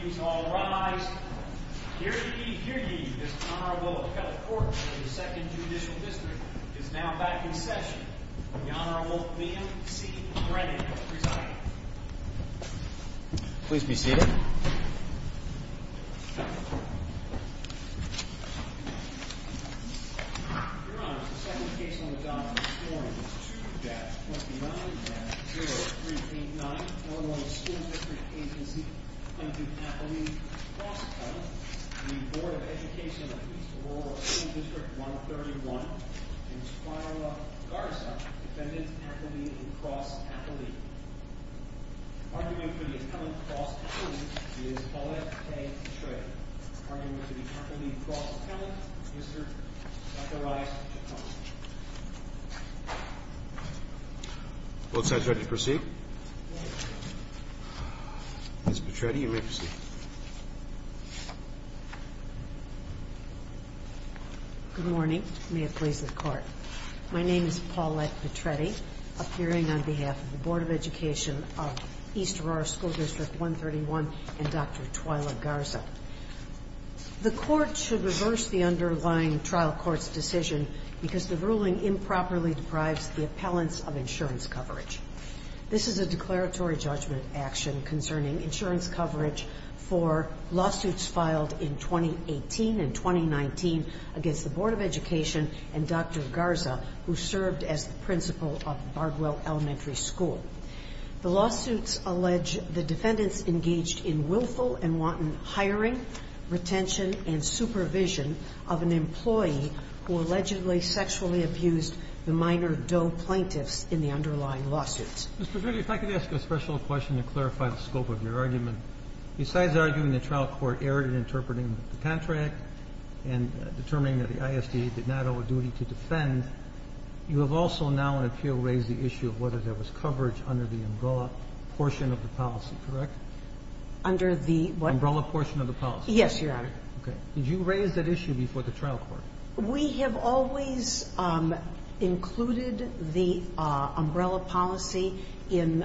Please all rise. Here ye, here ye, Mr. Honorable Petitfort of the 2nd Judicial District is now back in session. The Honorable Liam C. Brennan is presiding. Please be seated. Your Honor, the second case on the docket this morning is 2-29-0389. The Honorable School District Agency plaintiff appellee, cross-appellant. The Board of Education of East Aurora School District 131. Ms. Carla Garza, defendant appellee and cross-appellee. Argument for the appellant, cross-appellant, is Paulette K. Petretti. Argument for the appellant, cross-appellant, is her not the right to comment. Both sides ready to proceed? Ms. Petretti, you may proceed. Good morning. May it please the Court. My name is Paulette Petretti, appearing on behalf of the Board of Education of East Aurora School District 131 and Dr. Twyla Garza. The Court should reverse the underlying trial court's decision because the ruling improperly deprives the appellants of insurance coverage. This is a declaratory judgment action concerning insurance coverage for lawsuits filed in 2018 and 2019 against the Board of Education and Dr. Garza, who served as the principal of Bardwell Elementary School. The lawsuits allege the defendants engaged in willful and wanton hiring, retention, and supervision of an employee who allegedly sexually abused the minor Doe plaintiffs in the underlying lawsuits. Mr. Dreeben, if I could ask a special question to clarify the scope of your argument. Besides arguing the trial court erred in interpreting the contract and determining that the ISD did not owe a duty to defend, you have also now in appeal raised the issue of whether there was coverage under the umbrella portion of the policy, correct? Under the what? Umbrella portion of the policy. Yes, Your Honor. Okay. Did you raise that issue before the trial court? We have always included the umbrella policy in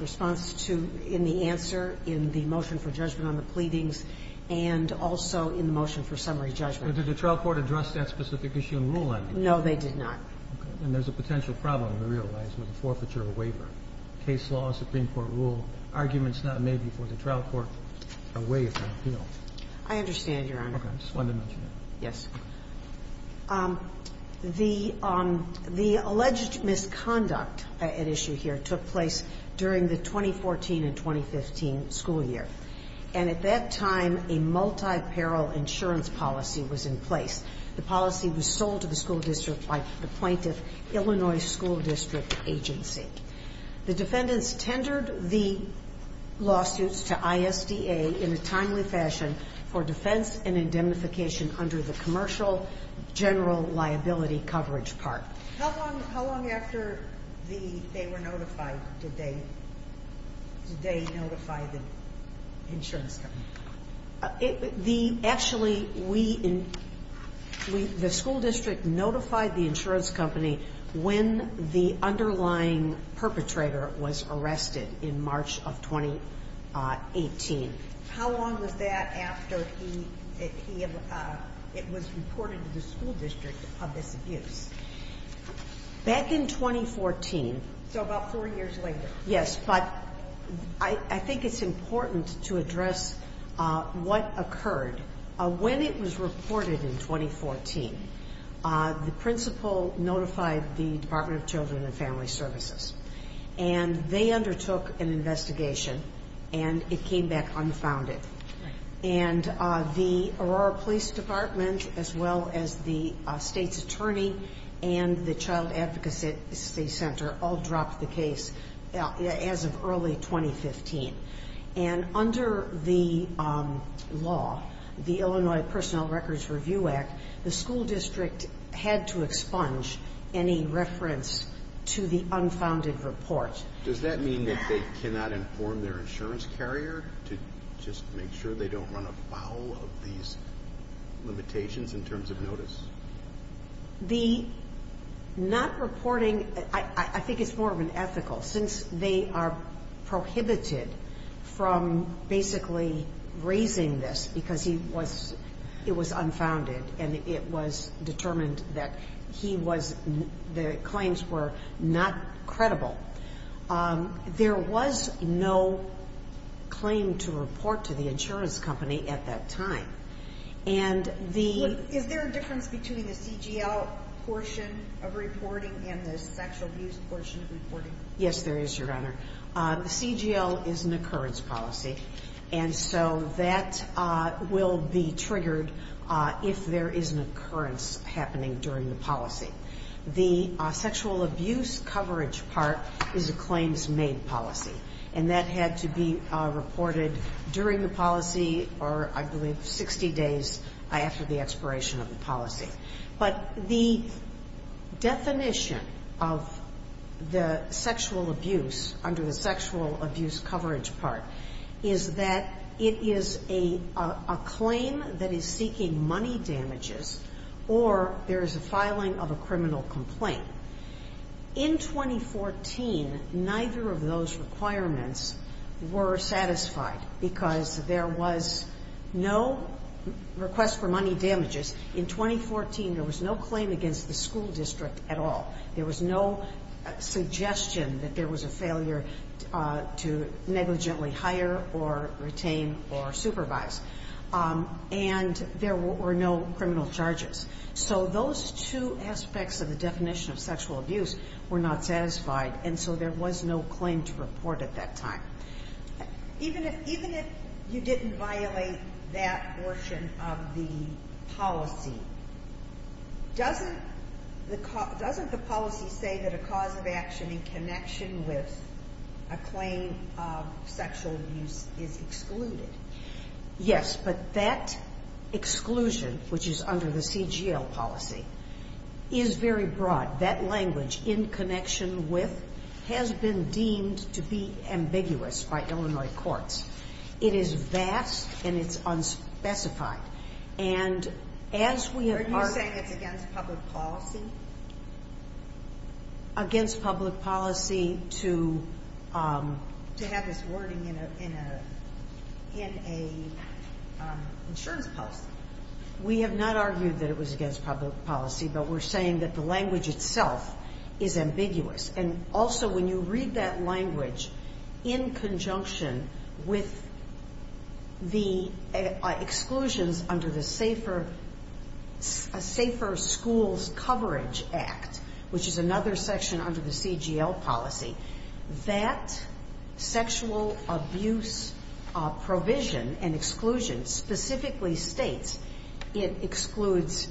response to the answer in the motion for judgment on the pleadings and also in the motion for summary judgment. Did the trial court address that specific issue in rule ending? No, they did not. Okay. And there's a potential problem, we realize, with a forfeiture of a waiver. Case law, Supreme Court rule, arguments not made before the trial court are way ahead of appeal. I understand, Your Honor. Okay. I just wanted to mention that. Yes. The alleged misconduct at issue here took place during the 2014 and 2015 school year. And at that time, a multi-parole insurance policy was in place. The policy was sold to the school district by the plaintiff, Illinois School District Agency. The defendants tendered the lawsuits to ISDA in a timely fashion for defense and indemnification under the commercial general liability coverage part. How long after they were notified did they notify the insurance company? Actually, the school district notified the insurance company when the underlying perpetrator was arrested in March of 2018. How long was that after it was reported to the school district of this abuse? Back in 2014. So about four years later. Yes, but I think it's important to address what occurred. When it was reported in 2014, the principal notified the Department of Children and Family Services. And they undertook an investigation, and it came back unfounded. And the Aurora Police Department, as well as the state's attorney and the Child Advocacy Center all dropped the case as of early 2015. And under the law, the Illinois Personnel Records Review Act, the school district had to expunge any reference to the unfounded report. Does that mean that they cannot inform their insurance carrier to just make sure they don't run afoul of these limitations in terms of notice? The not reporting, I think it's more of an ethical, since they are prohibited from basically raising this because it was unfounded and it was determined that the claims were not credible. There was no claim to report to the insurance company at that time. Is there a difference between the CGL portion of reporting and the sexual abuse portion of reporting? Yes, there is, Your Honor. The CGL is an occurrence policy. And so that will be triggered if there is an occurrence happening during the policy. The sexual abuse coverage part is a claims-made policy. And that had to be reported during the policy or, I believe, 60 days after the expiration of the policy. But the definition of the sexual abuse under the sexual abuse coverage part is that it is a claim that is seeking money damages or there is a filing of a criminal complaint. In 2014, neither of those requirements were satisfied because there was no request for money damages. In 2014, there was no claim against the school district at all. There was no suggestion that there was a failure to negligently hire or retain or supervise. And there were no criminal charges. So those two aspects of the definition of sexual abuse were not satisfied. And so there was no claim to report at that time. Even if you didn't violate that portion of the policy, doesn't the policy say that a cause of action in connection with a claim of sexual abuse is excluded? Yes, but that exclusion, which is under the CGL policy, is very broad. That language, in connection with, has been deemed to be ambiguous by Illinois courts. It is vast and it's unspecified. Are you saying it's against public policy? Against public policy to have this wording in an insurance policy. We have not argued that it was against public policy, but we're saying that the language itself is ambiguous. And also when you read that language in conjunction with the exclusions under the Safer Schools Coverage Act, which is another section under the CGL policy, that sexual abuse provision and exclusion specifically states it excludes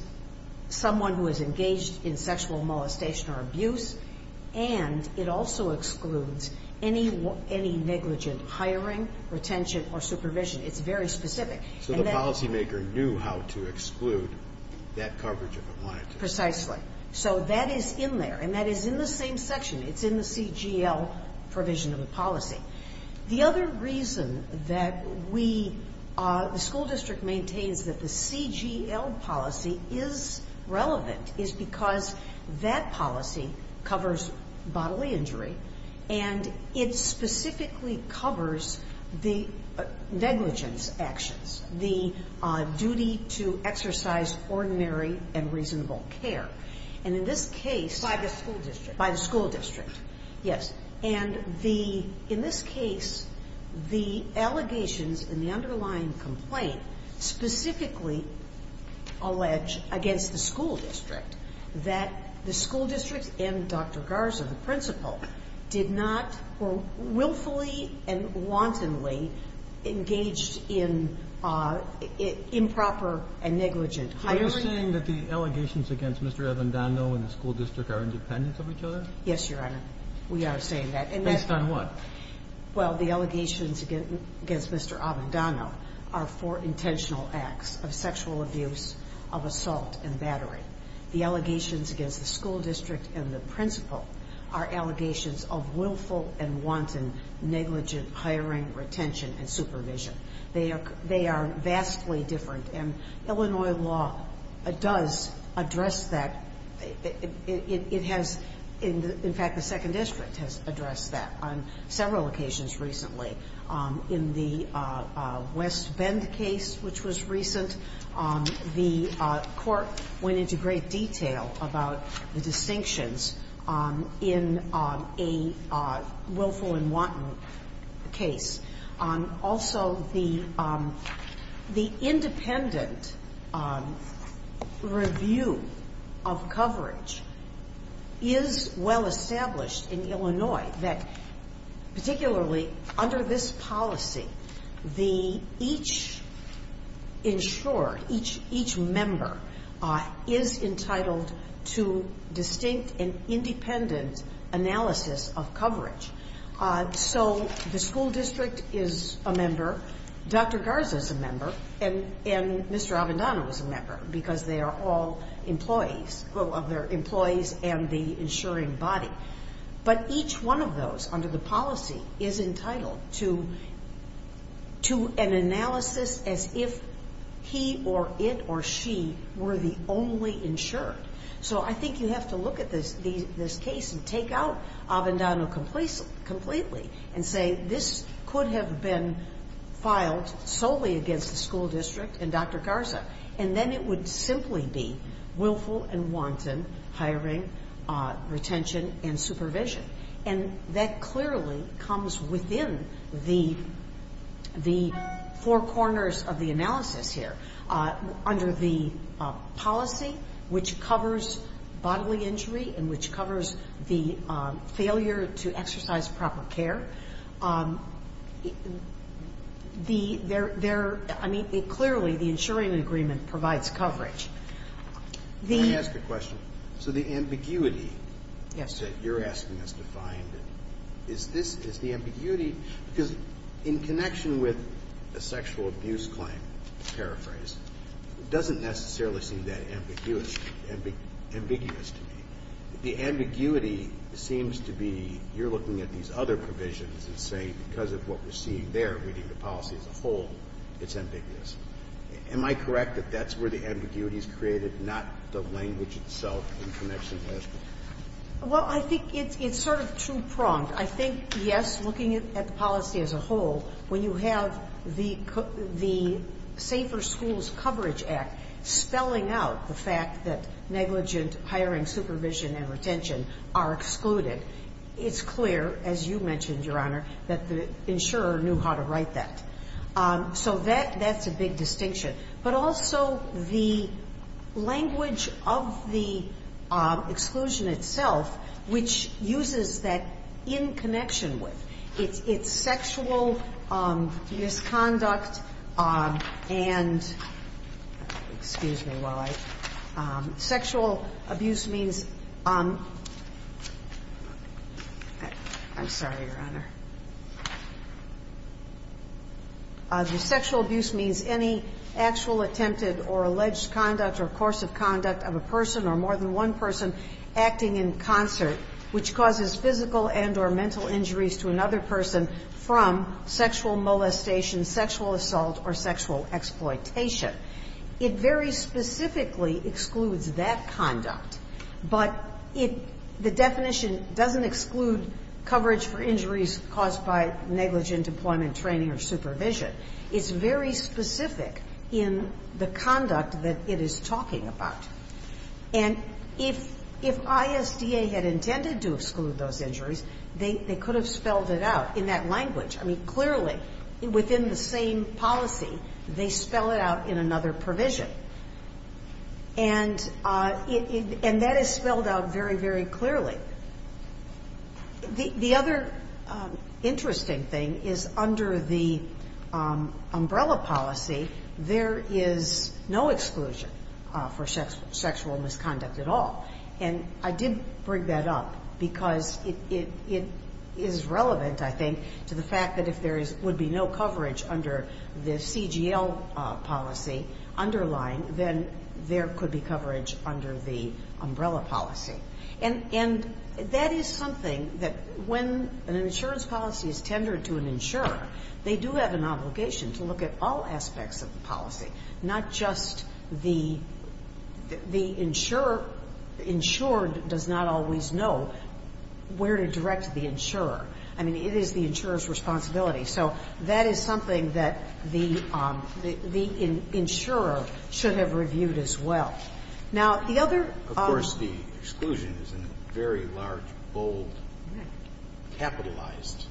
someone who is engaged in sexual molestation or abuse and it also excludes any negligent hiring, retention or supervision. It's very specific. So the policymaker knew how to exclude that coverage if it wanted to. Precisely. So that is in there, and that is in the same section. It's in the CGL provision of the policy. The other reason that we, the school district maintains that the CGL policy is relevant is because that policy covers bodily injury and it specifically covers the negligence actions, the duty to exercise ordinary and reasonable care. And in this case by the school district. Yes. And in this case, the allegations in the underlying complaint specifically allege against the school district that the school district and Dr. Garza, the principal, did not willfully and wantonly engage in improper and negligent hiring. So you're saying that the allegations against Mr. Avendano and the school district are independent of each other? Yes, Your Honor. We are saying that. Based on what? Well, the allegations against Mr. Avendano are for intentional acts of sexual abuse, of assault and battery. The allegations against the school district and the principal are allegations of willful and wanton negligent hiring, retention and supervision. They are vastly different, and Illinois law does address that. It has, in fact, the second district has addressed that on several occasions recently. In the West Bend case, which was recent, the court went into great detail about the distinctions in a willful and wanton case. Also, the independent review of coverage is well established in Illinois that, particularly under this policy, each insurer, each member, is entitled to distinct and independent analysis of coverage. So the school district is a member, Dr. Garza is a member, and Mr. Avendano is a member, because they are all employees and the insuring body. But each one of those, under the policy, is entitled to an analysis as if he or it or she were the only insured. So I think you have to look at this case and take out Avendano completely and say, this could have been filed solely against the school district for willful and wanton hiring, retention and supervision. And that clearly comes within the four corners of the analysis here. Under the policy, which covers bodily injury and which covers the failure to exercise proper care, there are ñ I mean, clearly, the insuring agreement provides coverage. The ñ I want to ask a question. So the ambiguity that you're asking us to find, is this ñ is the ambiguity ñ because in connection with the sexual abuse claim, to paraphrase, it doesn't necessarily seem that ambiguous to me. The ambiguity seems to be you're looking at these other provisions and saying because of what we're seeing there, reading the policy as a whole, it's ambiguous. Am I correct that that's where the ambiguity is created, not the language itself in connection with this? Well, I think it's sort of two-pronged. I think, yes, looking at the policy as a whole, when you have the Safer Schools Coverage Act spelling out the fact that negligent hiring, supervision, and retention are excluded, it's clear, as you mentioned, Your Honor, that the insurer knew how to write that. So that's a big distinction. But also, the language of the exclusion itself, which uses that in connection with its sexual misconduct and ñ excuse me while I ñ sexual abuse and sexual abuse means ñ I'm sorry, Your Honor. The sexual abuse means any actual attempted or alleged conduct or course of conduct of a person or more than one person acting in concert which causes physical and or mental injuries to another person from sexual molestation, sexual assault or sexual exploitation. It very specifically excludes that conduct. But it ñ the definition doesn't exclude coverage for injuries caused by negligent employment, training or supervision. It's very specific in the conduct that it is talking about. And if ISDA had intended to exclude those injuries, they could have spelled it out in that language. I mean, clearly, within the same policy, they spell it out in another provision. And that is spelled out very, very clearly. The other interesting thing is under the umbrella policy, there is no exclusion for sexual misconduct at all. And I did bring that up because it is relevant to the fact that if there would be no coverage under the CGL policy underlying, then there could be coverage under the umbrella policy. And that is something that when an insurance policy is tendered to an insurer, they do have an obligation to look at all aspects of the policy, not just the ñ the insurer ñ the insured does not always know where to direct the insurer. I mean, it is the insurer's responsibility. So that is something that the ñ the insurer should have reviewed as well. Now, the other ñ Of course, the exclusion is in a very large, bold, capitalized,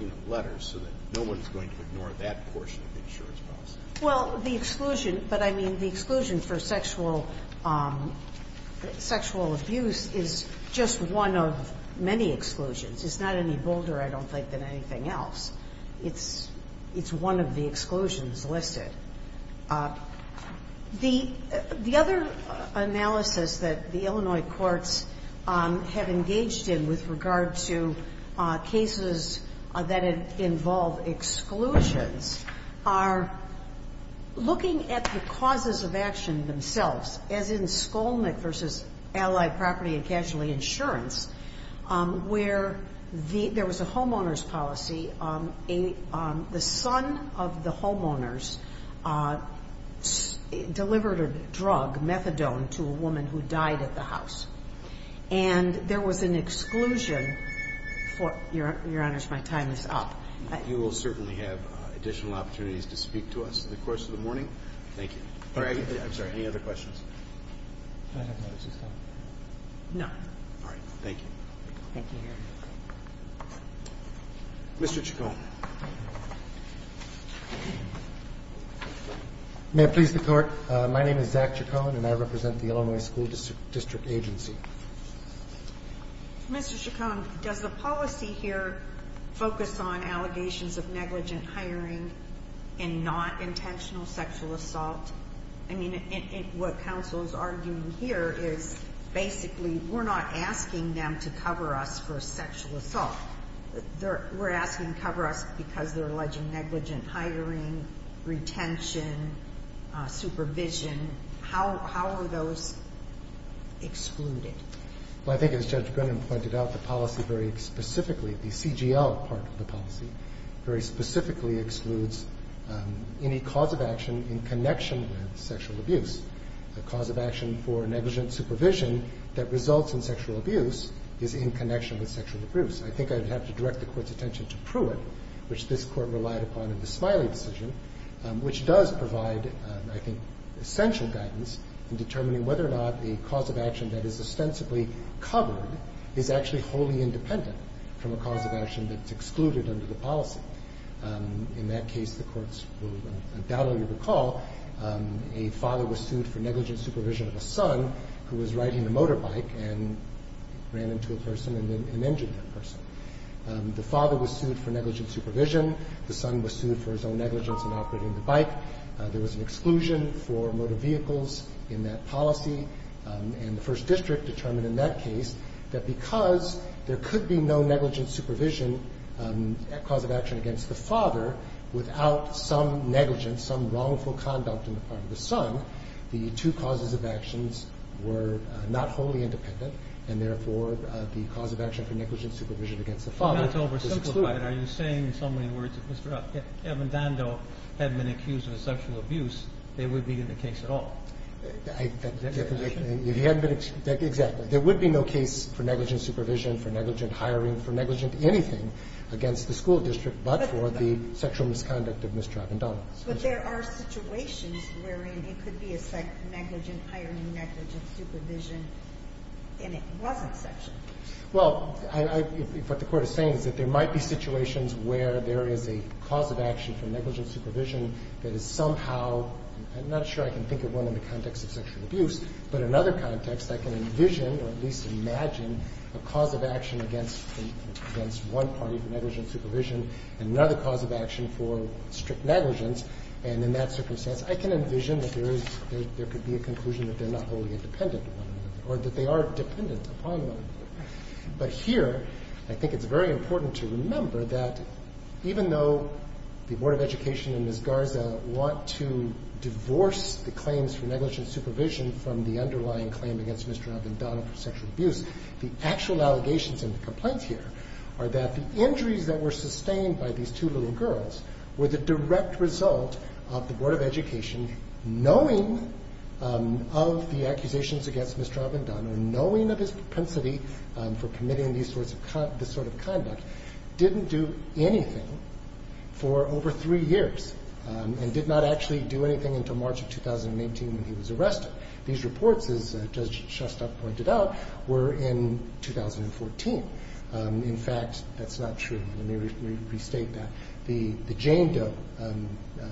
you know, letter, so that no one is going to ignore that portion of the insurance policy. Well, the exclusion ñ but I mean, the exclusion for sexual ñ sexual abuse is just one of many exclusions. It's not any bolder, I don't think, than anything else. It's ñ it's one of the exclusions listed. The other analysis that the Illinois courts have engaged in with regard to cases that involve exclusions are looking at the causes of action themselves, as in Skolnick v. Allied Property and Casualty Insurance, where the ñ there was a homeowner's policy, a ñ the son of the homeowners delivered a drug, methadone, to a woman who died at the house. And there was an exclusion for ñ Your Honors, my time is up. You will certainly have additional opportunities to speak to us in the course of the morning. Thank you. All right. I'm sorry. Any other questions? No. All right. Thank you. Thank you, Your Honor. Mr. Chacon. May it please the Court? My name is Zach Chacon, and I represent the Illinois School District Agency. Mr. Chacon, does the policy here focus on allegations of negligent hiring and not exclusion? Well, I think as Judge Brennan pointed out, the policy very specifically, the CGL part of the policy, very specifically excludes any cause of action in connection negligent supervision that results in sexual abuse is in connection with sexual abuse. I think I'd have to direct the Court's attention to Pruitt, which this Court relied upon in the Smiley decision, which does provide, I think, essential guidance in determining whether or not a cause of action that is ostensibly covered is actually wholly independent from a cause of action that's excluded under the policy. In that case, the courts will undoubtedly recall a father was sued for negligent supervision of a son who was riding a motorbike and ran into a person and injured that person. The father was sued for negligent supervision. The son was sued for his own negligence in operating the bike. There was an exclusion for motor vehicles in that policy. And the First District determined in that case that because there could be no negligent supervision cause of action against the father without some negligence, some wrongful conduct on the part of the son, the two causes of actions were not wholly independent and, therefore, the cause of action for negligent supervision against the father is excluded. But that's oversimplified. Are you saying in so many words that if Mr. Evendando had been accused of sexual abuse, they would be in the case at all? Exactly. There would be no case for negligent supervision, for negligent hiring, for negligent anything against the school district but for the sexual misconduct of Mr. Evendando. But there are situations wherein it could be a negligent hiring, negligent supervision, and it wasn't sexual. Well, what the Court is saying is that there might be situations where there is a cause of action for negligent supervision that is somehow, I'm not sure I can think of one in the context of sexual abuse, but another context I can envision or at least imagine a cause of action against one party for negligent supervision and another cause of action for strict negligence. And in that circumstance, I can envision that there could be a conclusion that they're not wholly independent or that they are dependent upon one another. But here I think it's very important to remember that even though the Board of Education, knowing of the accusations against Mr. Evendando, knowing of his propensity for committing this sort of conduct, didn't do anything for over three years and did not actually do anything until March of 2018 when he was arrested. These reports, as Judge Shostak pointed out, were in 2014. In fact, that's not true. Let me restate that. The Jane Doe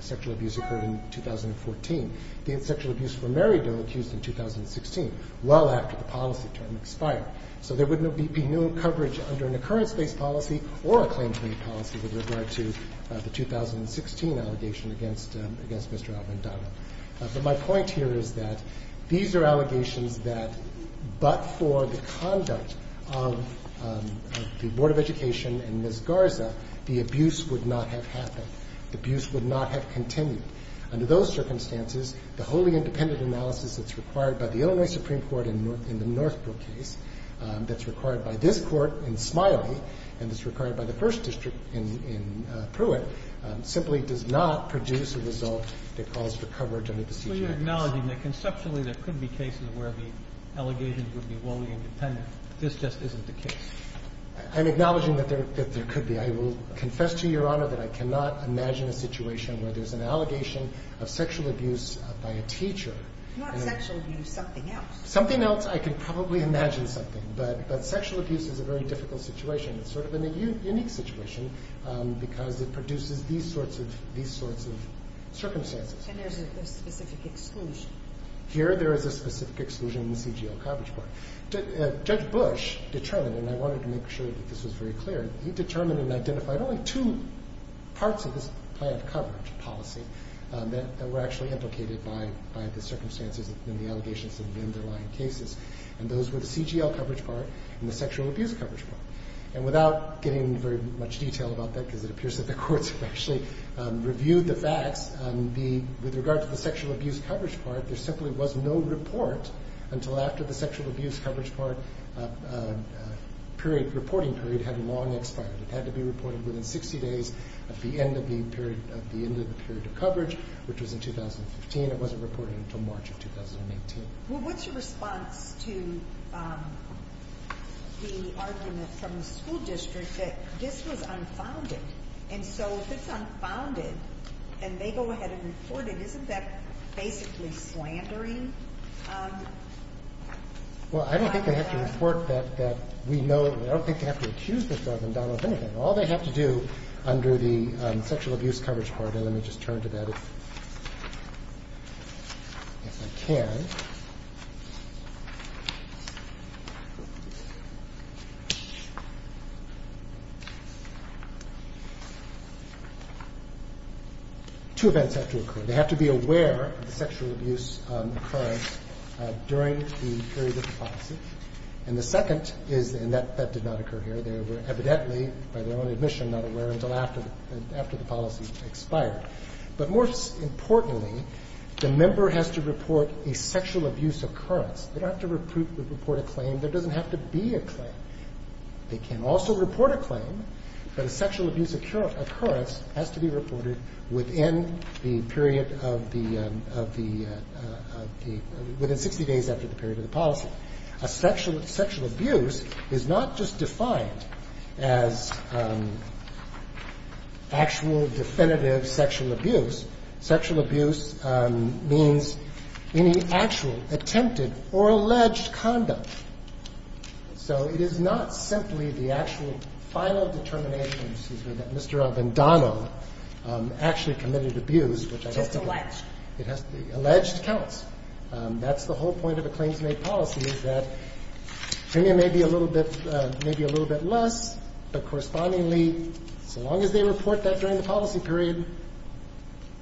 sexual abuse occurred in 2014. The sexual abuse for Mary Doe accused in 2016, well after the policy term expired. So there would be no coverage under an occurrence-based policy or a claim-to-mate policy with regard to the 2016 allegation against Mr. Evendando. But my point here is that these are allegations that but for the conduct of the Board of Education and Ms. Garza, the abuse would not have happened. The abuse would not have continued. Under those circumstances, the wholly independent analysis that's required by the Illinois Supreme Court in the Northbrook case, that's required by this district in Pruitt, simply does not produce a result that calls for coverage under the CJA case. So you're acknowledging that conceptually there could be cases where the allegations would be wholly independent. This just isn't the case. I'm acknowledging that there could be. I will confess to Your Honor that I cannot imagine a situation where there's an allegation of sexual abuse by a teacher. Not sexual abuse. Something else. Something else. I could probably imagine something. But sexual abuse is a very difficult situation. It's sort of a unique situation because it produces these sorts of circumstances. And there's a specific exclusion. Here there is a specific exclusion in the CGL coverage part. Judge Bush determined, and I wanted to make sure that this was very clear, he determined and identified only two parts of this plan of coverage policy that were actually implicated by the circumstances and the allegations of the underlying cases. And those were the CGL coverage part and the sexual abuse coverage part. And without getting into very much detail about that because it appears that the courts have actually reviewed the facts, with regard to the sexual abuse coverage part, there simply was no report until after the sexual abuse coverage part reporting period had long expired. It had to be reported within 60 days of the end of the period of coverage, which was in 2015. It wasn't reported until March of 2018. Well, what's your response to the argument from the school district that this was unfounded? And so if it's unfounded and they go ahead and report it, isn't that basically slandering? Well, I don't think they have to report that we know. I don't think they have to accuse Mr. Ogundala of anything. All they have to do under the sexual abuse coverage part, and let me just turn to that if I can, two events have to occur. They have to be aware of the sexual abuse occurrence during the period of the policy. And the second is, and that did not occur here, they were evidently, by their own admission, not aware until after the policy expired. But more importantly, the member has to report a sexual abuse occurrence. They don't have to report a claim. There doesn't have to be a claim. They can also report a claim, but a sexual abuse occurrence has to be reported within the period of the – within 60 days after the period of the policy. And the third is that a sexual abuse is not just defined as actual definitive sexual abuse. Sexual abuse means any actual attempted or alleged conduct. So it is not simply the actual final determination, excuse me, that Mr. Ogundala actually committed abuse, which I don't think – Just alleged. It has to be alleged counts. That's the whole point of a claims-made policy is that maybe a little bit less, but correspondingly, so long as they report that during the policy period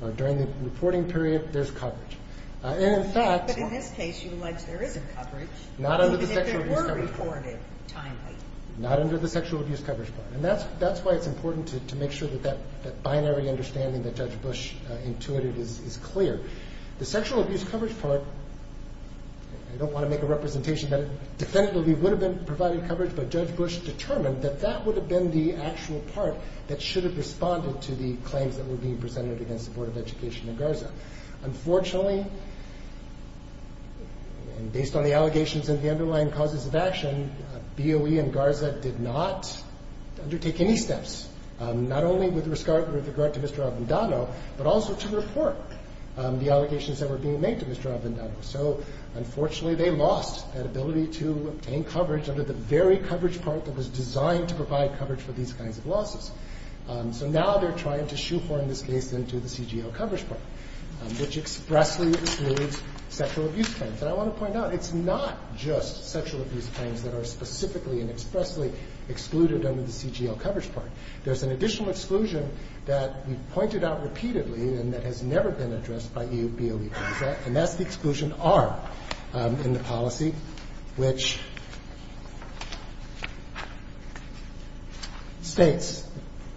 or during the reporting period, there's coverage. And in fact – But in this case, you allege there is a coverage. Not under the sexual abuse coverage plan. Even if it were reported timely. Not under the sexual abuse coverage plan. And that's why it's important to make sure that that binary understanding that Judge Bush intuited is clear. The sexual abuse coverage part – I don't want to make a representation that it definitively would have been provided coverage, but Judge Bush determined that that would have been the actual part that should have responded to the claims that were being presented against the Board of Education in Garza. Unfortunately, based on the allegations and the underlying causes of action, BOE and Garza did not undertake any steps, not only with regard to Mr. Ogundala, but also to report the allegations that were being made to Mr. Ogundala. So, unfortunately, they lost that ability to obtain coverage under the very coverage part that was designed to provide coverage for these kinds of losses. So now they're trying to shoehorn this case into the CGL coverage part, which expressly excludes sexual abuse claims. And I want to point out, it's not just sexual abuse claims that are specifically and expressly excluded under the CGL coverage part. There's an additional exclusion that we've pointed out repeatedly and that has never been addressed by BOE and Garza, and that's the exclusion R in the policy, which states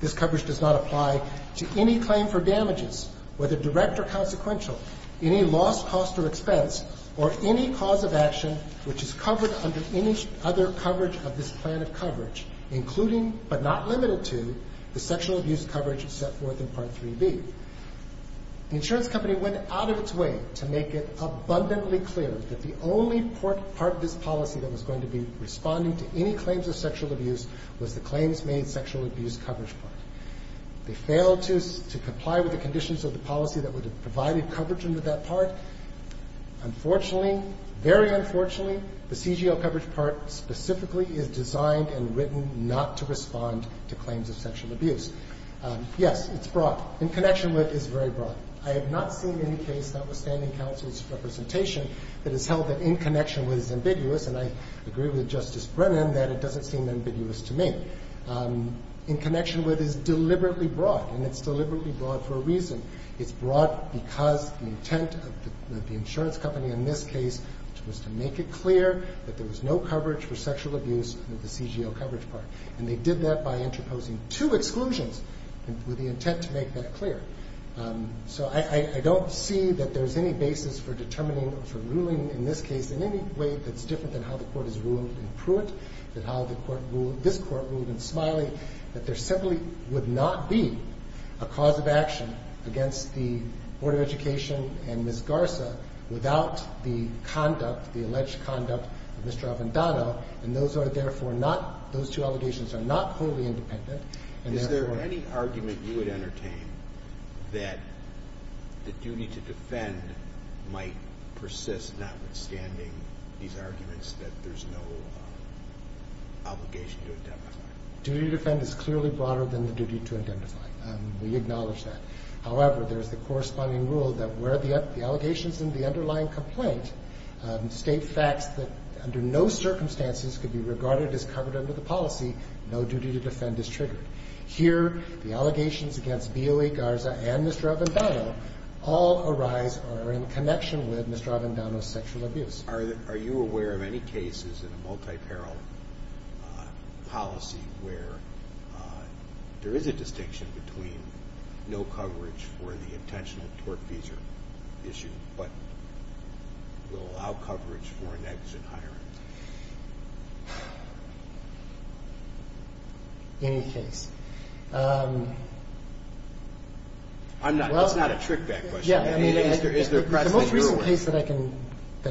this coverage does not apply to any claim for damages, whether direct or consequential, any loss, cost, or expense, or any cause of action which is covered under any other coverage of this plan of to the sexual abuse coverage set forth in Part 3B. The insurance company went out of its way to make it abundantly clear that the only part of this policy that was going to be responding to any claims of sexual abuse was the claims made sexual abuse coverage part. They failed to comply with the conditions of the policy that would have provided coverage under that part. Unfortunately, very unfortunately, the CGL coverage part specifically is designed and written not to respond to claims of sexual abuse. Yes, it's broad. In Connection With is very broad. I have not seen any case, notwithstanding counsel's representation, that has held that In Connection With is ambiguous, and I agree with Justice Brennan that it doesn't seem ambiguous to me. In Connection With is deliberately broad, and it's deliberately broad for a reason. It's broad because the intent of the insurance company in this case was to make it And they did that by interposing two exclusions with the intent to make that clear. So I don't see that there's any basis for determining, for ruling in this case in any way that's different than how the court has ruled in Pruitt, than how this court ruled in Smiley, that there simply would not be a cause of action against the Board of Education and Ms. Garza without the conduct, the alleged conduct of Mr. Avendano, and those two allegations are not wholly independent. Is there any argument you would entertain that the duty to defend might persist notwithstanding these arguments that there's no obligation to identify? Duty to defend is clearly broader than the duty to identify. We acknowledge that. However, there's the corresponding rule that where the allegations in the underlying complaint state facts that under no circumstances could be regarded as covered under the policy, no duty to defend is triggered. Here, the allegations against BOA, Garza, and Mr. Avendano all arise or are in connection with Mr. Avendano's sexual abuse. Are you aware of any cases in a multi-parallel policy where there is a distinction between no coverage for the intentional tort-feasor issue, but will allow coverage for an exit hiring? Any case. That's not a trick question. The most recent case that I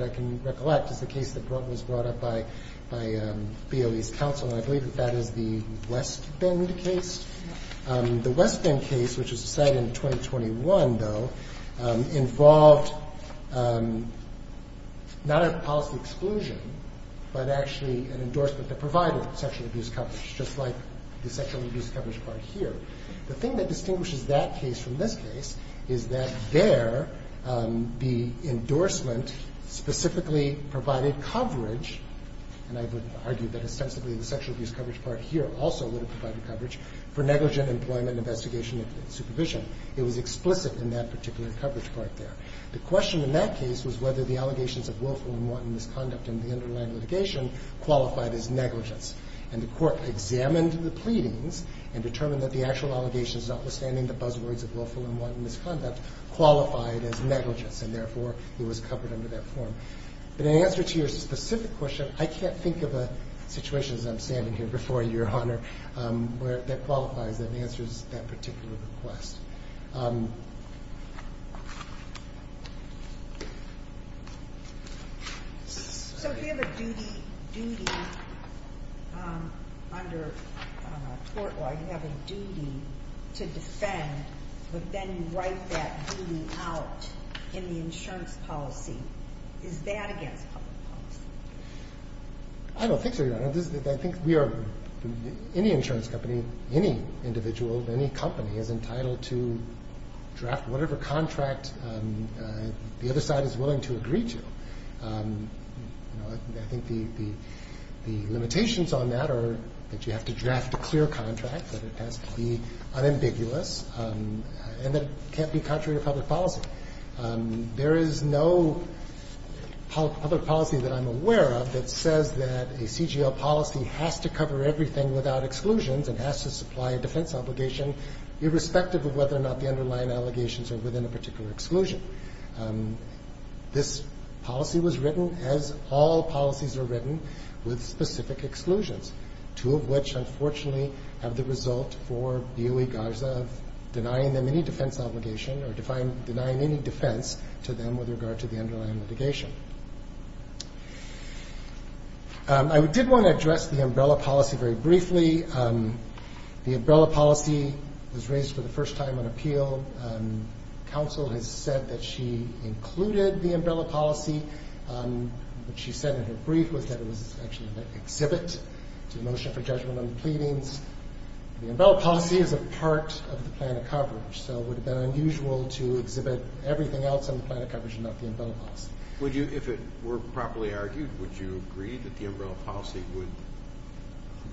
can recollect is the case that was brought up by BOE's counsel, and I believe that that is the West Bend case. The West Bend case, which was decided in 2021, though, involved not a policy exclusion, but actually an endorsement that provided sexual abuse coverage, just like the sexual abuse coverage part here. The thing that distinguishes that case from this case is that there the endorsement specifically provided coverage, and I would argue that ostensibly the sexual abuse coverage part here also would have provided coverage for negligent employment and investigation and supervision. It was explicit in that particular coverage part there. The question in that case was whether the allegations of willful and wanton misconduct in the underlying litigation qualified as negligence, and the court examined the pleadings and determined that the actual allegations, notwithstanding the buzzwords of willful and wanton misconduct, qualified as negligence, and therefore it was covered under that form. But in answer to your specific question, I can't think of a situation, as I'm standing here before you, Your Honor, that qualifies and answers that particular request. So if you have a duty under court law, you have a duty to defend, but then you write that duty out in the insurance policy, is that against public policy? I don't think so, Your Honor. I think we are, any insurance company, any individual, any company, is entitled to draft whatever contract the other side is willing to agree to. I think the limitations on that are that you have to draft a clear contract, that it has to be unambiguous, and that it can't be contrary to public policy. There is no public policy that I'm aware of that says that a CGL policy has to cover everything without exclusions and has to supply a defense obligation, irrespective of whether or not the underlying allegations are within a particular exclusion. This policy was written, as all policies are written, with specific exclusions, two of which, unfortunately, have the result for B.O.E. Garza of denying them any defense obligation or denying any defense to them with regard to the underlying litigation. I did want to address the umbrella policy very briefly. The umbrella policy was raised for the first time on appeal. Counsel has said that she included the umbrella policy. What she said in her brief was that it was actually an exhibit to the motion for judgment on the pleadings. The umbrella policy is a part of the plan of coverage, so it would have been unusual to exhibit everything else on the plan of coverage and not the umbrella policy. If it were properly argued, would you agree that the umbrella policy would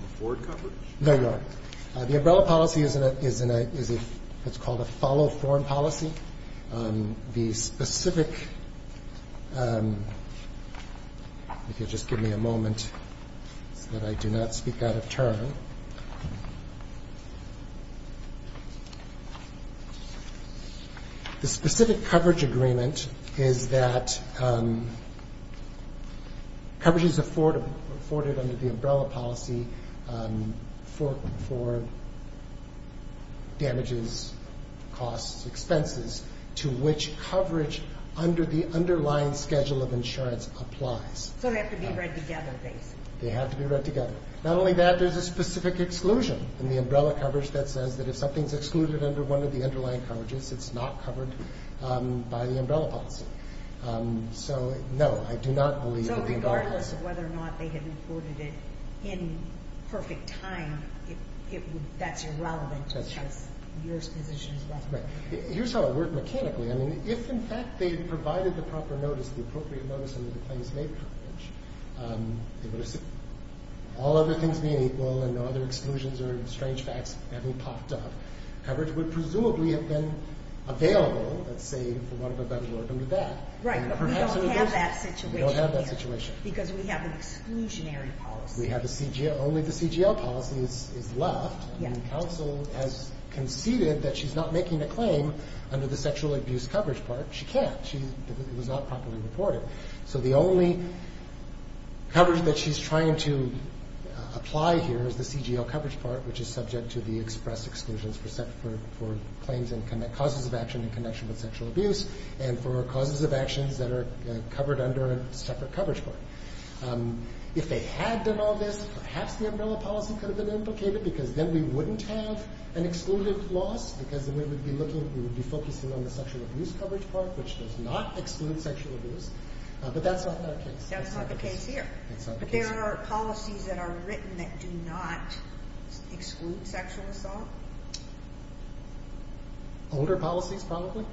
afford coverage? No, Your Honor. The umbrella policy is what's called a follow-form policy. The specific – if you'll just give me a moment so that I do not speak out of turn. The specific coverage agreement is that coverage is afforded under the umbrella policy for damages, costs, expenses, to which coverage under the underlying schedule of insurance applies. So they have to be read together, basically. They have to be read together. Not only that, there's a specific exclusion in the umbrella coverage that says that if something's excluded under one of the underlying coverages, it's not covered by the umbrella policy. So, no, I do not believe that the umbrella policy – That's irrelevant because your position is relevant. Here's how it worked mechanically. I mean, if in fact they provided the proper notice, the appropriate notice under the claims-made coverage, all other things being equal and no other exclusions or strange facts having popped up, coverage would presumably have been available, let's say, for one of a better order than that. Right, but we don't have that situation here. We don't have that situation. Because we have an exclusionary policy. Only the CGL policy is left. And counsel has conceded that she's not making a claim under the sexual abuse coverage part. She can't. It was not properly reported. So the only coverage that she's trying to apply here is the CGL coverage part, which is subject to the express exclusions for claims and causes of action in connection with sexual abuse and for causes of actions that are covered under a separate coverage part. If they had done all this, perhaps the umbrella policy could have been implicated because then we wouldn't have an exclusive loss because then we would be focusing on the sexual abuse coverage part, which does not exclude sexual abuse. But that's not the case. That's not the case here. That's not the case here. But there are policies that are written that do not exclude sexual assault. Older policies, probably.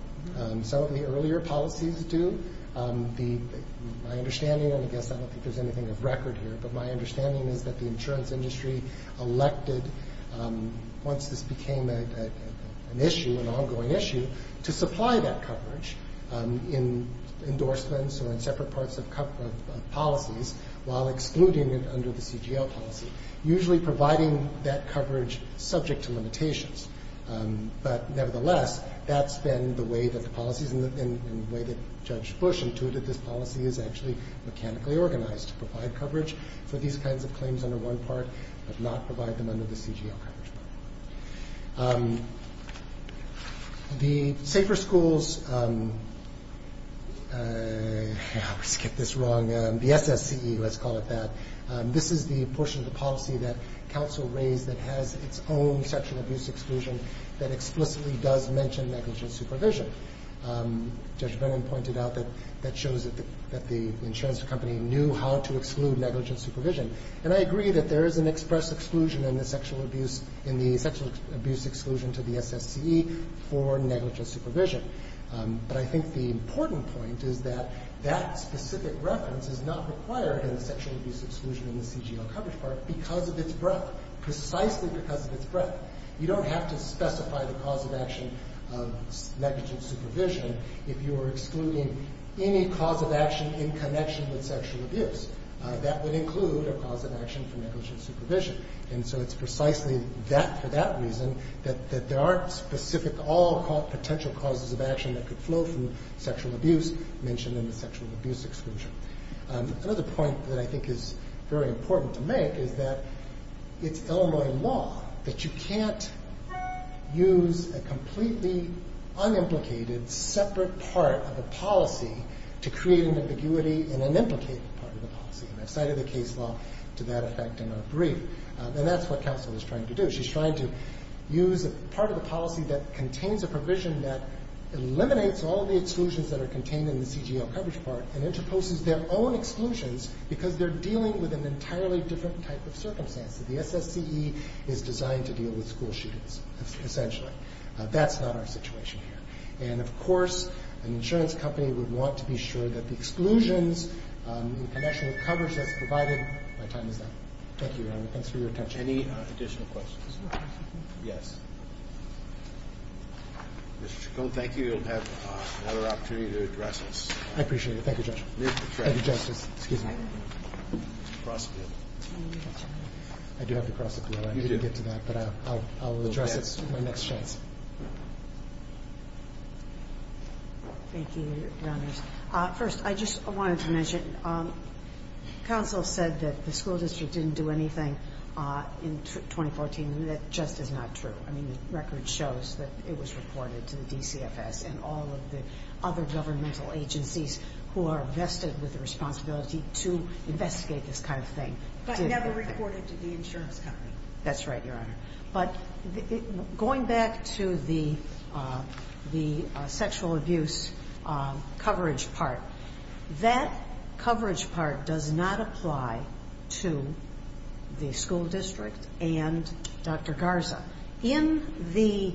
Some of the earlier policies do. My understanding, and I guess I don't think there's anything of record here, but my understanding is that the insurance industry elected, once this became an issue, an ongoing issue, to supply that coverage in endorsements or in separate parts of policies while excluding it under the CGL policy, usually providing that coverage subject to limitations. But nevertheless, that's been the way that the policies and the way that Judge Bush intuited this policy is actually mechanically organized to provide coverage for these kinds of claims under one part but not provide them under the CGL coverage part. The safer schools, I always get this wrong, the SSCE, let's call it that, this is the portion of the policy that counsel raised that has its own sexual abuse exclusion that explicitly does mention negligent supervision. Judge Brennan pointed out that that shows that the insurance company knew how to exclude negligent supervision. And I agree that there is an express exclusion in the sexual abuse exclusion to the SSCE for negligent supervision. But I think the important point is that that specific reference is not required in the sexual abuse exclusion in the CGL coverage part because of its breadth. Precisely because of its breadth. You don't have to specify the cause of action of negligent supervision if you are excluding any cause of action in connection with sexual abuse. That would include a cause of action for negligent supervision. And so it's precisely for that reason that there aren't specific all potential causes of action that could flow from sexual abuse mentioned in the sexual abuse exclusion. Another point that I think is very important to make is that it's Illinois law that you can't use a completely unimplicated separate part of the policy to create an ambiguity in an implicated part of the policy. And I cited the case law to that effect in our brief. And that's what counsel is trying to do. She's trying to use a part of the policy that contains a provision that eliminates all the exclusions that are contained in the CGL coverage part and interposes their own exclusions because they're dealing with an entirely different type of circumstance. The SSCE is designed to deal with school shootings, essentially. That's not our situation here. And, of course, an insurance company would want to be sure that the exclusions in connection with coverage that's provided by time is done. Thank you, Your Honor. Thanks for your attention. Any additional questions? Yes. Mr. Chacon, thank you. You'll have another opportunity to address us. I appreciate it. Thank you, Judge. Thank you, Justice. Excuse me. I do have to cross the floor. I need to get to that. But I'll address it my next chance. Thank you, Your Honors. First, I just wanted to mention, counsel said that the school district didn't do anything in 2014. That just is not true. I mean, the record shows that it was reported to the DCFS and all of the other governmental agencies who are vested with the responsibility to investigate this kind of thing. But never reported to the insurance company. That's right, Your Honor. But going back to the sexual abuse coverage part, that coverage part does not apply to the school district and Dr. Garza. In the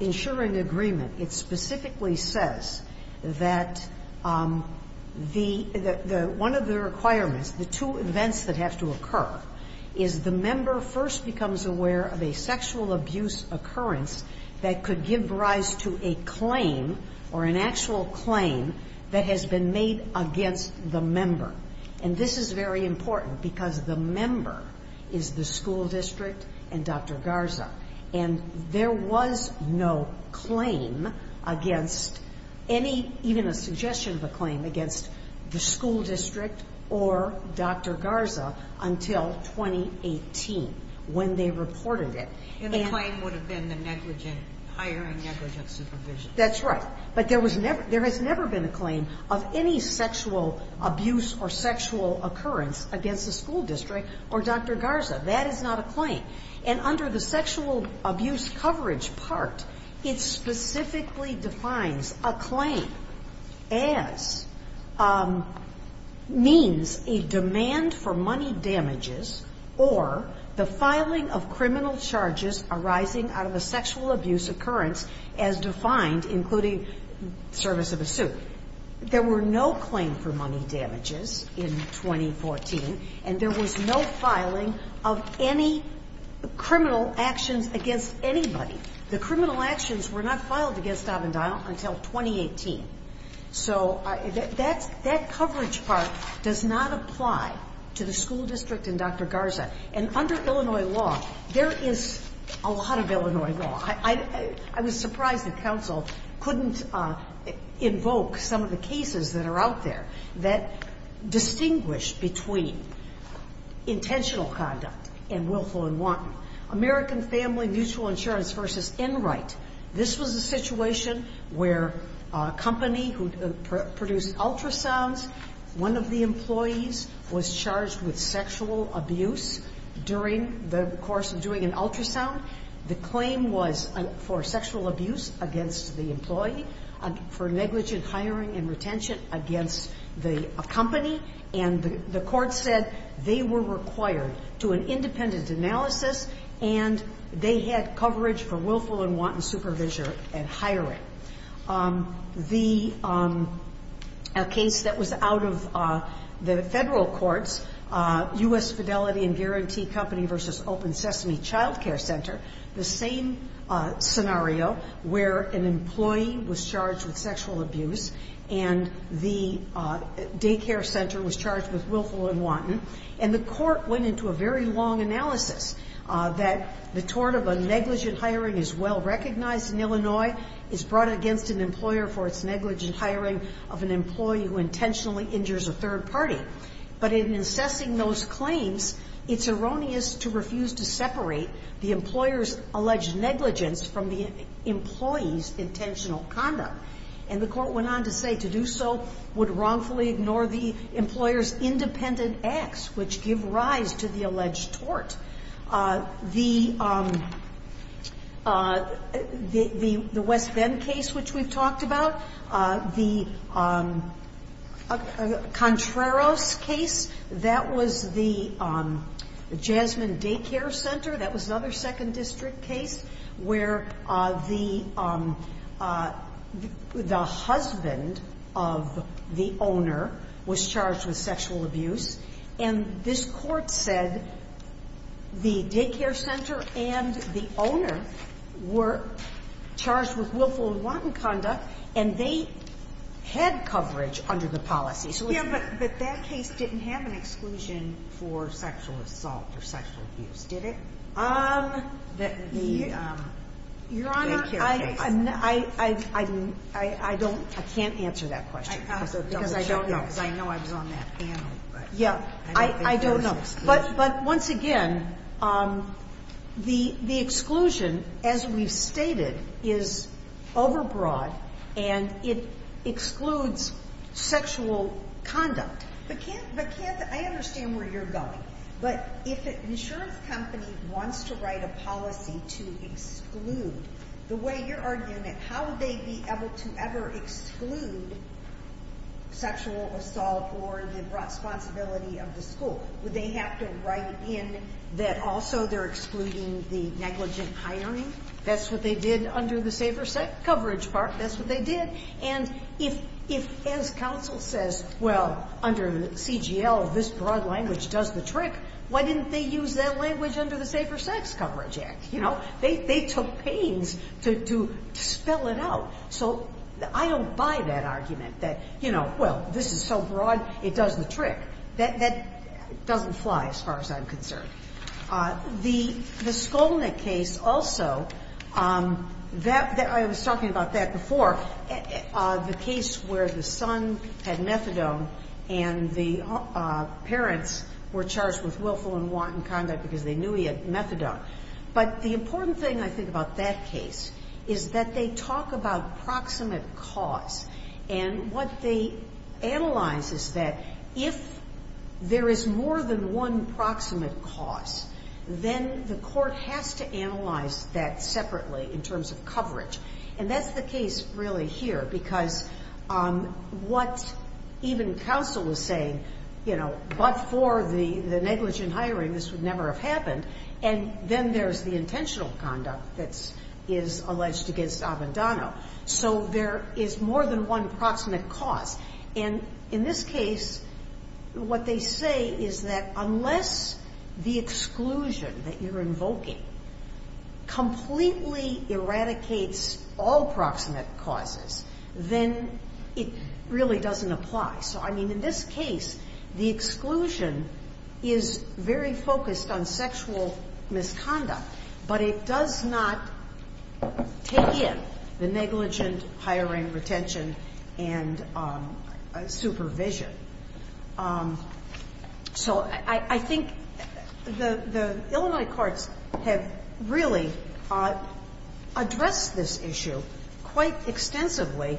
insuring agreement, it specifically says that one of the requirements, the two events that have to occur is the member first becomes aware of a sexual abuse occurrence that could give rise to a claim or an actual claim that has been made against the member. And this is very important because the member is the school district and Dr. Garza. And there was no claim against any, even a suggestion of a claim against the school district or Dr. Garza until 2018 when they reported it. And the claim would have been the negligent, hiring negligent supervision. That's right. But there has never been a claim of any sexual abuse or sexual occurrence against the school district or Dr. Garza. That is not a claim. And under the sexual abuse coverage part, it specifically defines a claim as means a demand for money damages or the filing of criminal charges arising out of a sexual abuse occurrence as defined, including service of a suit. There were no claims for money damages in 2014, and there was no filing of any criminal actions against anybody. The criminal actions were not filed against Avondale until 2018. So that coverage part does not apply to the school district and Dr. Garza. And under Illinois law, there is a lot of Illinois law. I was surprised that counsel couldn't invoke some of the cases that are out there that distinguish between intentional conduct and willful and wanton. American Family Mutual Insurance v. Enright. This was a situation where a company who produced ultrasounds, one of the employees was charged with sexual abuse during the course of doing an ultrasound. The claim was for sexual abuse against the employee, for negligent hiring and retention against the company. And the court said they were required to an independent analysis and they had coverage for willful and wanton supervision and hiring. The case that was out of the federal courts, U.S. Fidelity and Guarantee Company v. Open Sesame Child Care Center, the same scenario where an employee was charged with sexual abuse and the daycare center was charged with willful and wanton. And the court went into a very long analysis that the tort of a negligent hiring is well recognized in Illinois, is brought against an employer for its negligent hiring of an employee who intentionally injures a third party. But in assessing those claims, it's erroneous to refuse to separate the employer's alleged negligence from the employee's intentional conduct. And the court went on to say to do so would wrongfully ignore the employer's independent acts, which give rise to the alleged tort. The West End case, which we've talked about, the Contreras case, that was the Jasmine Daycare Center. That was another second district case where the husband of the owner was charged with sexual abuse. And this court said the daycare center and the owner were charged with willful and wanton conduct and they had coverage under the policy. But that case didn't have an exclusion for sexual assault or sexual abuse, did it? Your Honor, I can't answer that question. Because I don't know. Because I know I was on that panel. Yeah, I don't know. But once again, the exclusion, as we've stated, is overbroad and it excludes sexual conduct. But I understand where you're going. But if an insurance company wants to write a policy to exclude, the way you're arguing it, how would they be able to ever exclude sexual assault or the responsibility of the school? Would they have to write in that also they're excluding the negligent hiring? That's what they did under the Safer Sex Coverage Act. That's what they did. And if, as counsel says, well, under the CGL, this broad language does the trick, why didn't they use that language under the Safer Sex Coverage Act? You know, they took pains to spell it out. So I don't buy that argument that, you know, well, this is so broad it does the trick. That doesn't fly as far as I'm concerned. The Skolnick case also, I was talking about that before, the case where the son had methadone and the parents were charged with willful and wanton conduct because they knew he had methadone. But the important thing, I think, about that case is that they talk about proximate cause. And what they analyze is that if there is more than one proximate cause, then the court has to analyze that separately in terms of coverage. And that's the case really here because what even counsel is saying, you know, but for the negligent hiring this would never have happened, and then there's the intentional conduct that is alleged against Abandano. So there is more than one proximate cause. And in this case, what they say is that unless the exclusion that you're invoking completely eradicates all proximate causes, then it really doesn't apply. So, I mean, in this case, the exclusion is very focused on sexual misconduct, but it does not take in the negligent hiring retention and supervision. So I think the Illinois courts have really addressed this issue quite extensively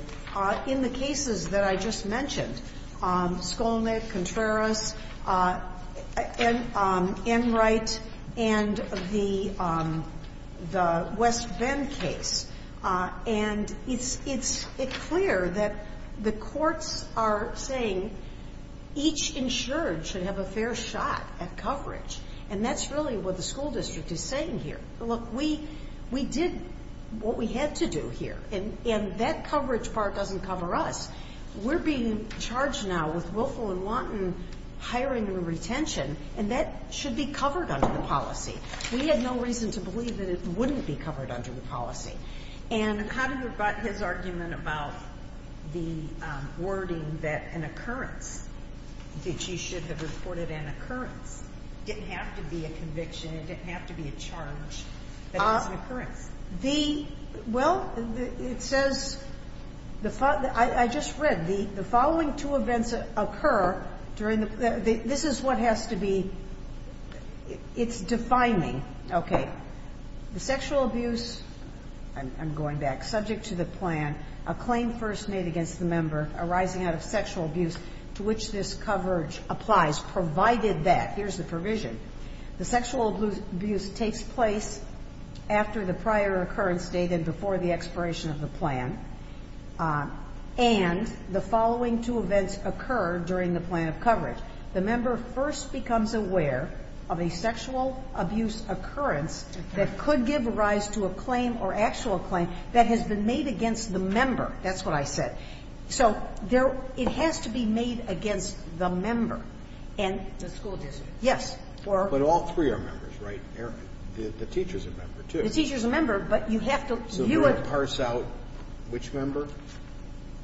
in the cases that I just mentioned, Skolnick, Contreras, Enright, and the West Bend case. And it's clear that the courts are saying each insured should have a fair shot at coverage. And that's really what the school district is saying here. Look, we did what we had to do here, and that coverage part doesn't cover us. We're being charged now with Willful and Wanton hiring and retention, and that should be covered under the policy. We had no reason to believe that it wouldn't be covered under the policy. And how do you rebut his argument about the wording that an occurrence, that you should have reported an occurrence, didn't have to be a conviction, it didn't have to be a charge, but it was an occurrence? Well, it says, I just read, the following two events occur during the – this is what has to be – it's defining. Okay. The sexual abuse, I'm going back, subject to the plan, a claim first made against the member arising out of sexual abuse to which this coverage applies, provided that, here's the provision, the sexual abuse takes place after the prior occurrence date and before the expiration of the plan, and the following two events occur during the plan of coverage. The member first becomes aware of a sexual abuse occurrence that could give rise to a claim or actual claim that has been made against the member. That's what I said. So there – it has to be made against the member. And the school district. Yes. But all three are members, right? The teacher's a member, too. The teacher's a member, but you have to view it. Can you parse out which member,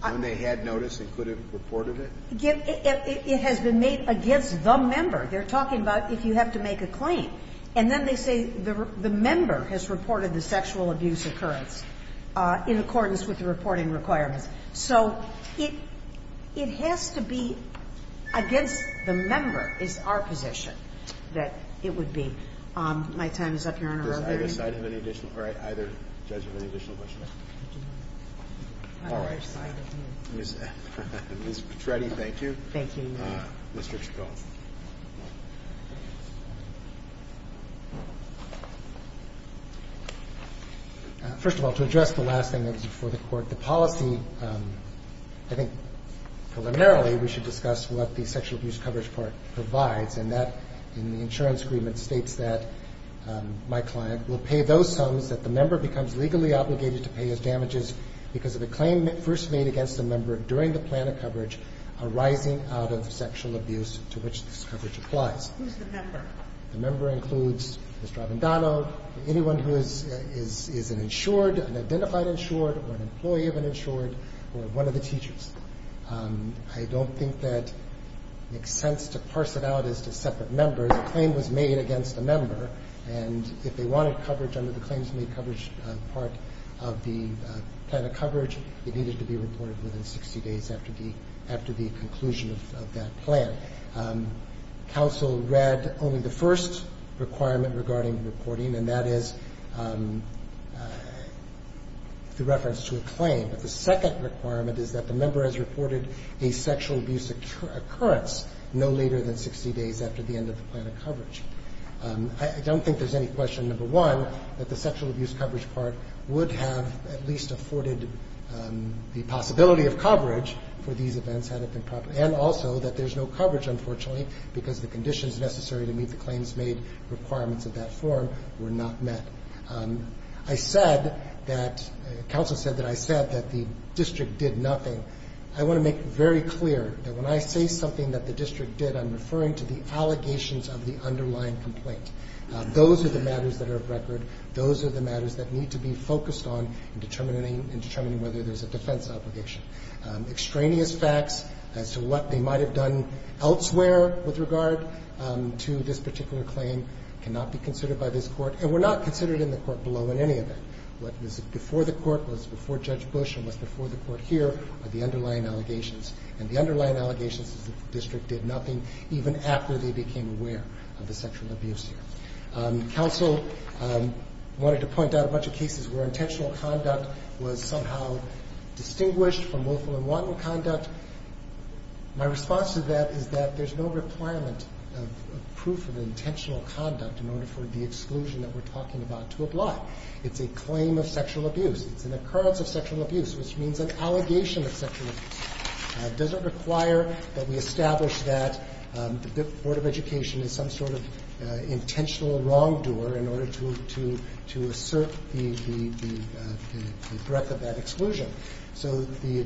when they had notice and could have reported it? It has been made against the member. They're talking about if you have to make a claim. And then they say the member has reported the sexual abuse occurrence in accordance with the reporting requirements. So it has to be against the member is our position that it would be. My time is up, Your Honor. Does either side have any additional – or either judge have any additional questions? All right. Ms. Petretti, thank you. Thank you, Your Honor. Mr. Chabot. First of all, to address the last thing that was before the Court, the policy, I think preliminarily we should discuss what the Sexual Abuse Coverage Part provides, and that in the insurance agreement states that my client will pay those sums that the member becomes legally obligated to pay as damages because of a claim first made against the member during the plan of coverage arising out of sexual abuse to which this coverage applies. Who's the member? The member includes Mr. Avendano, anyone who is an insured, an identified insured, or an employee of an insured, or one of the teachers. I don't think that it makes sense to parse it out as to separate members. A claim was made against a member, and if they wanted coverage under the claims made coverage part of the plan of coverage, it needed to be reported within 60 days after the conclusion of that plan. Counsel read only the first requirement regarding reporting, and that is the reference to a claim. The second requirement is that the member has reported a sexual abuse occurrence no later than 60 days after the end of the plan of coverage. I don't think there's any question, number one, that the Sexual Abuse Coverage Part would have at least afforded the possibility of coverage for these events had it been proper, and also that there's no coverage, unfortunately, because the conditions necessary to meet the claims made requirements of that form were not met. I said that, counsel said that I said that the district did nothing. I want to make very clear that when I say something that the district did, I'm referring to the allegations of the underlying complaint. Those are the matters that are of record. Those are the matters that need to be focused on in determining whether there's a defense obligation. Extraneous facts as to what they might have done elsewhere with regard to this particular claim cannot be considered by this court, and were not considered in the court below in any event. What was before the court was before Judge Bush and was before the court here are the underlying allegations, and the underlying allegations is the district did nothing even after they became aware of the sexual abuse here. Counsel wanted to point out a bunch of cases where intentional conduct was somehow distinguished from willful and wanton conduct. My response to that is that there's no requirement of proof of intentional conduct in order for the exclusion that we're talking about to apply. It's a claim of sexual abuse. It's an occurrence of sexual abuse, which means an allegation of sexual abuse. It doesn't require that we establish that the Board of Education is some sort of intentional wrongdoer in order to assert the threat of that exclusion. So the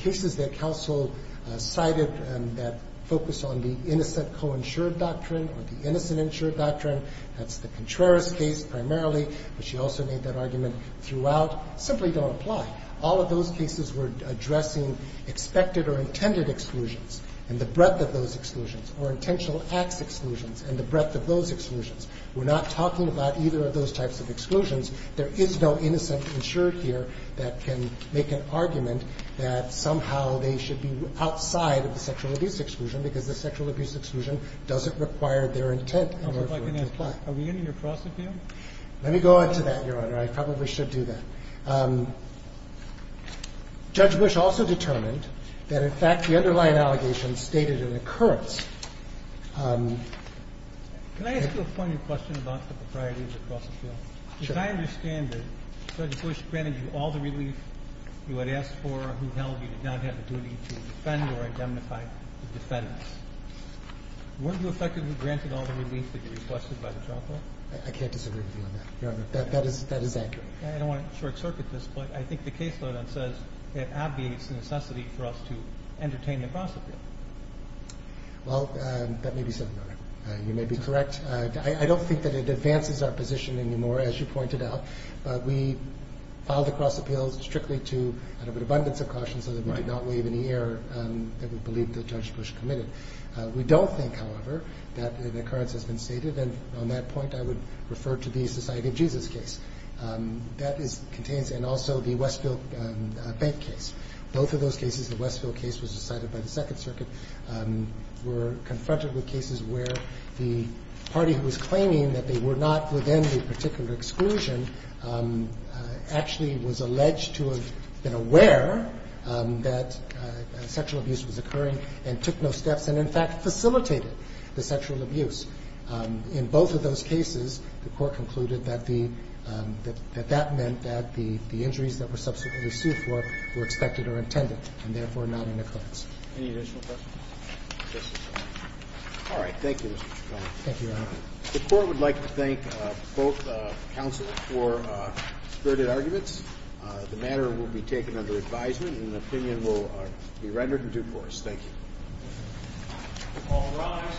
cases that counsel cited that focus on the innocent co-insured doctrine or the innocent insured doctrine, that's the Contreras case primarily, but she also made that argument throughout, simply don't apply. All of those cases were addressing expected or intended exclusions and the breadth of those exclusions or intentional acts exclusions and the breadth of those exclusions. We're not talking about either of those types of exclusions. There is no innocent insured here that can make an argument that somehow they should be outside of the sexual abuse exclusion because the sexual abuse exclusion doesn't require their intent in order for it to apply. Are we ending your cross-appeal? Let me go on to that, Your Honor. I probably should do that. Judge Bush also determined that, in fact, the underlying allegations stated an occurrence. Can I ask you a funny question about the propriety of the cross-appeal? Sure. If I understand it, Judge Bush granted you all the relief you had asked for, who held you did not have the duty to defend or identify the defendants. Weren't you effectively granted all the relief that you requested by the trial court? I can't disagree with you on that, Your Honor. That is accurate. I don't want to short-circuit this, but I think the caseload on it says it obviates the necessity for us to entertain the cross-appeal. Well, that may be so, Your Honor. You may be correct. I don't think that it advances our position anymore, as you pointed out, but we filed the cross-appeals strictly out of an abundance of caution so that we did not waive any error that we believe that Judge Bush committed. We don't think, however, that an occurrence has been stated, and on that point I would refer to the Society of Jesus case. That contains and also the Westfield Bank case. Both of those cases, the Westfield case was decided by the Second Circuit, were confronted with cases where the party who was claiming that they were not within the particular exclusion actually was alleged to have been aware that sexual abuse was occurring and took no steps and, in fact, facilitated the sexual abuse. In both of those cases, the court concluded that that meant that the injuries that were subsequently sued for were expected or intended and therefore not an occurrence. Any additional questions? No, sir. All right. Thank you, Mr. Chacon. Thank you, Your Honor. The court would like to thank both counsels for spirited arguments. The matter will be taken under advisement, and an opinion will be rendered in due course. Thank you. All rise.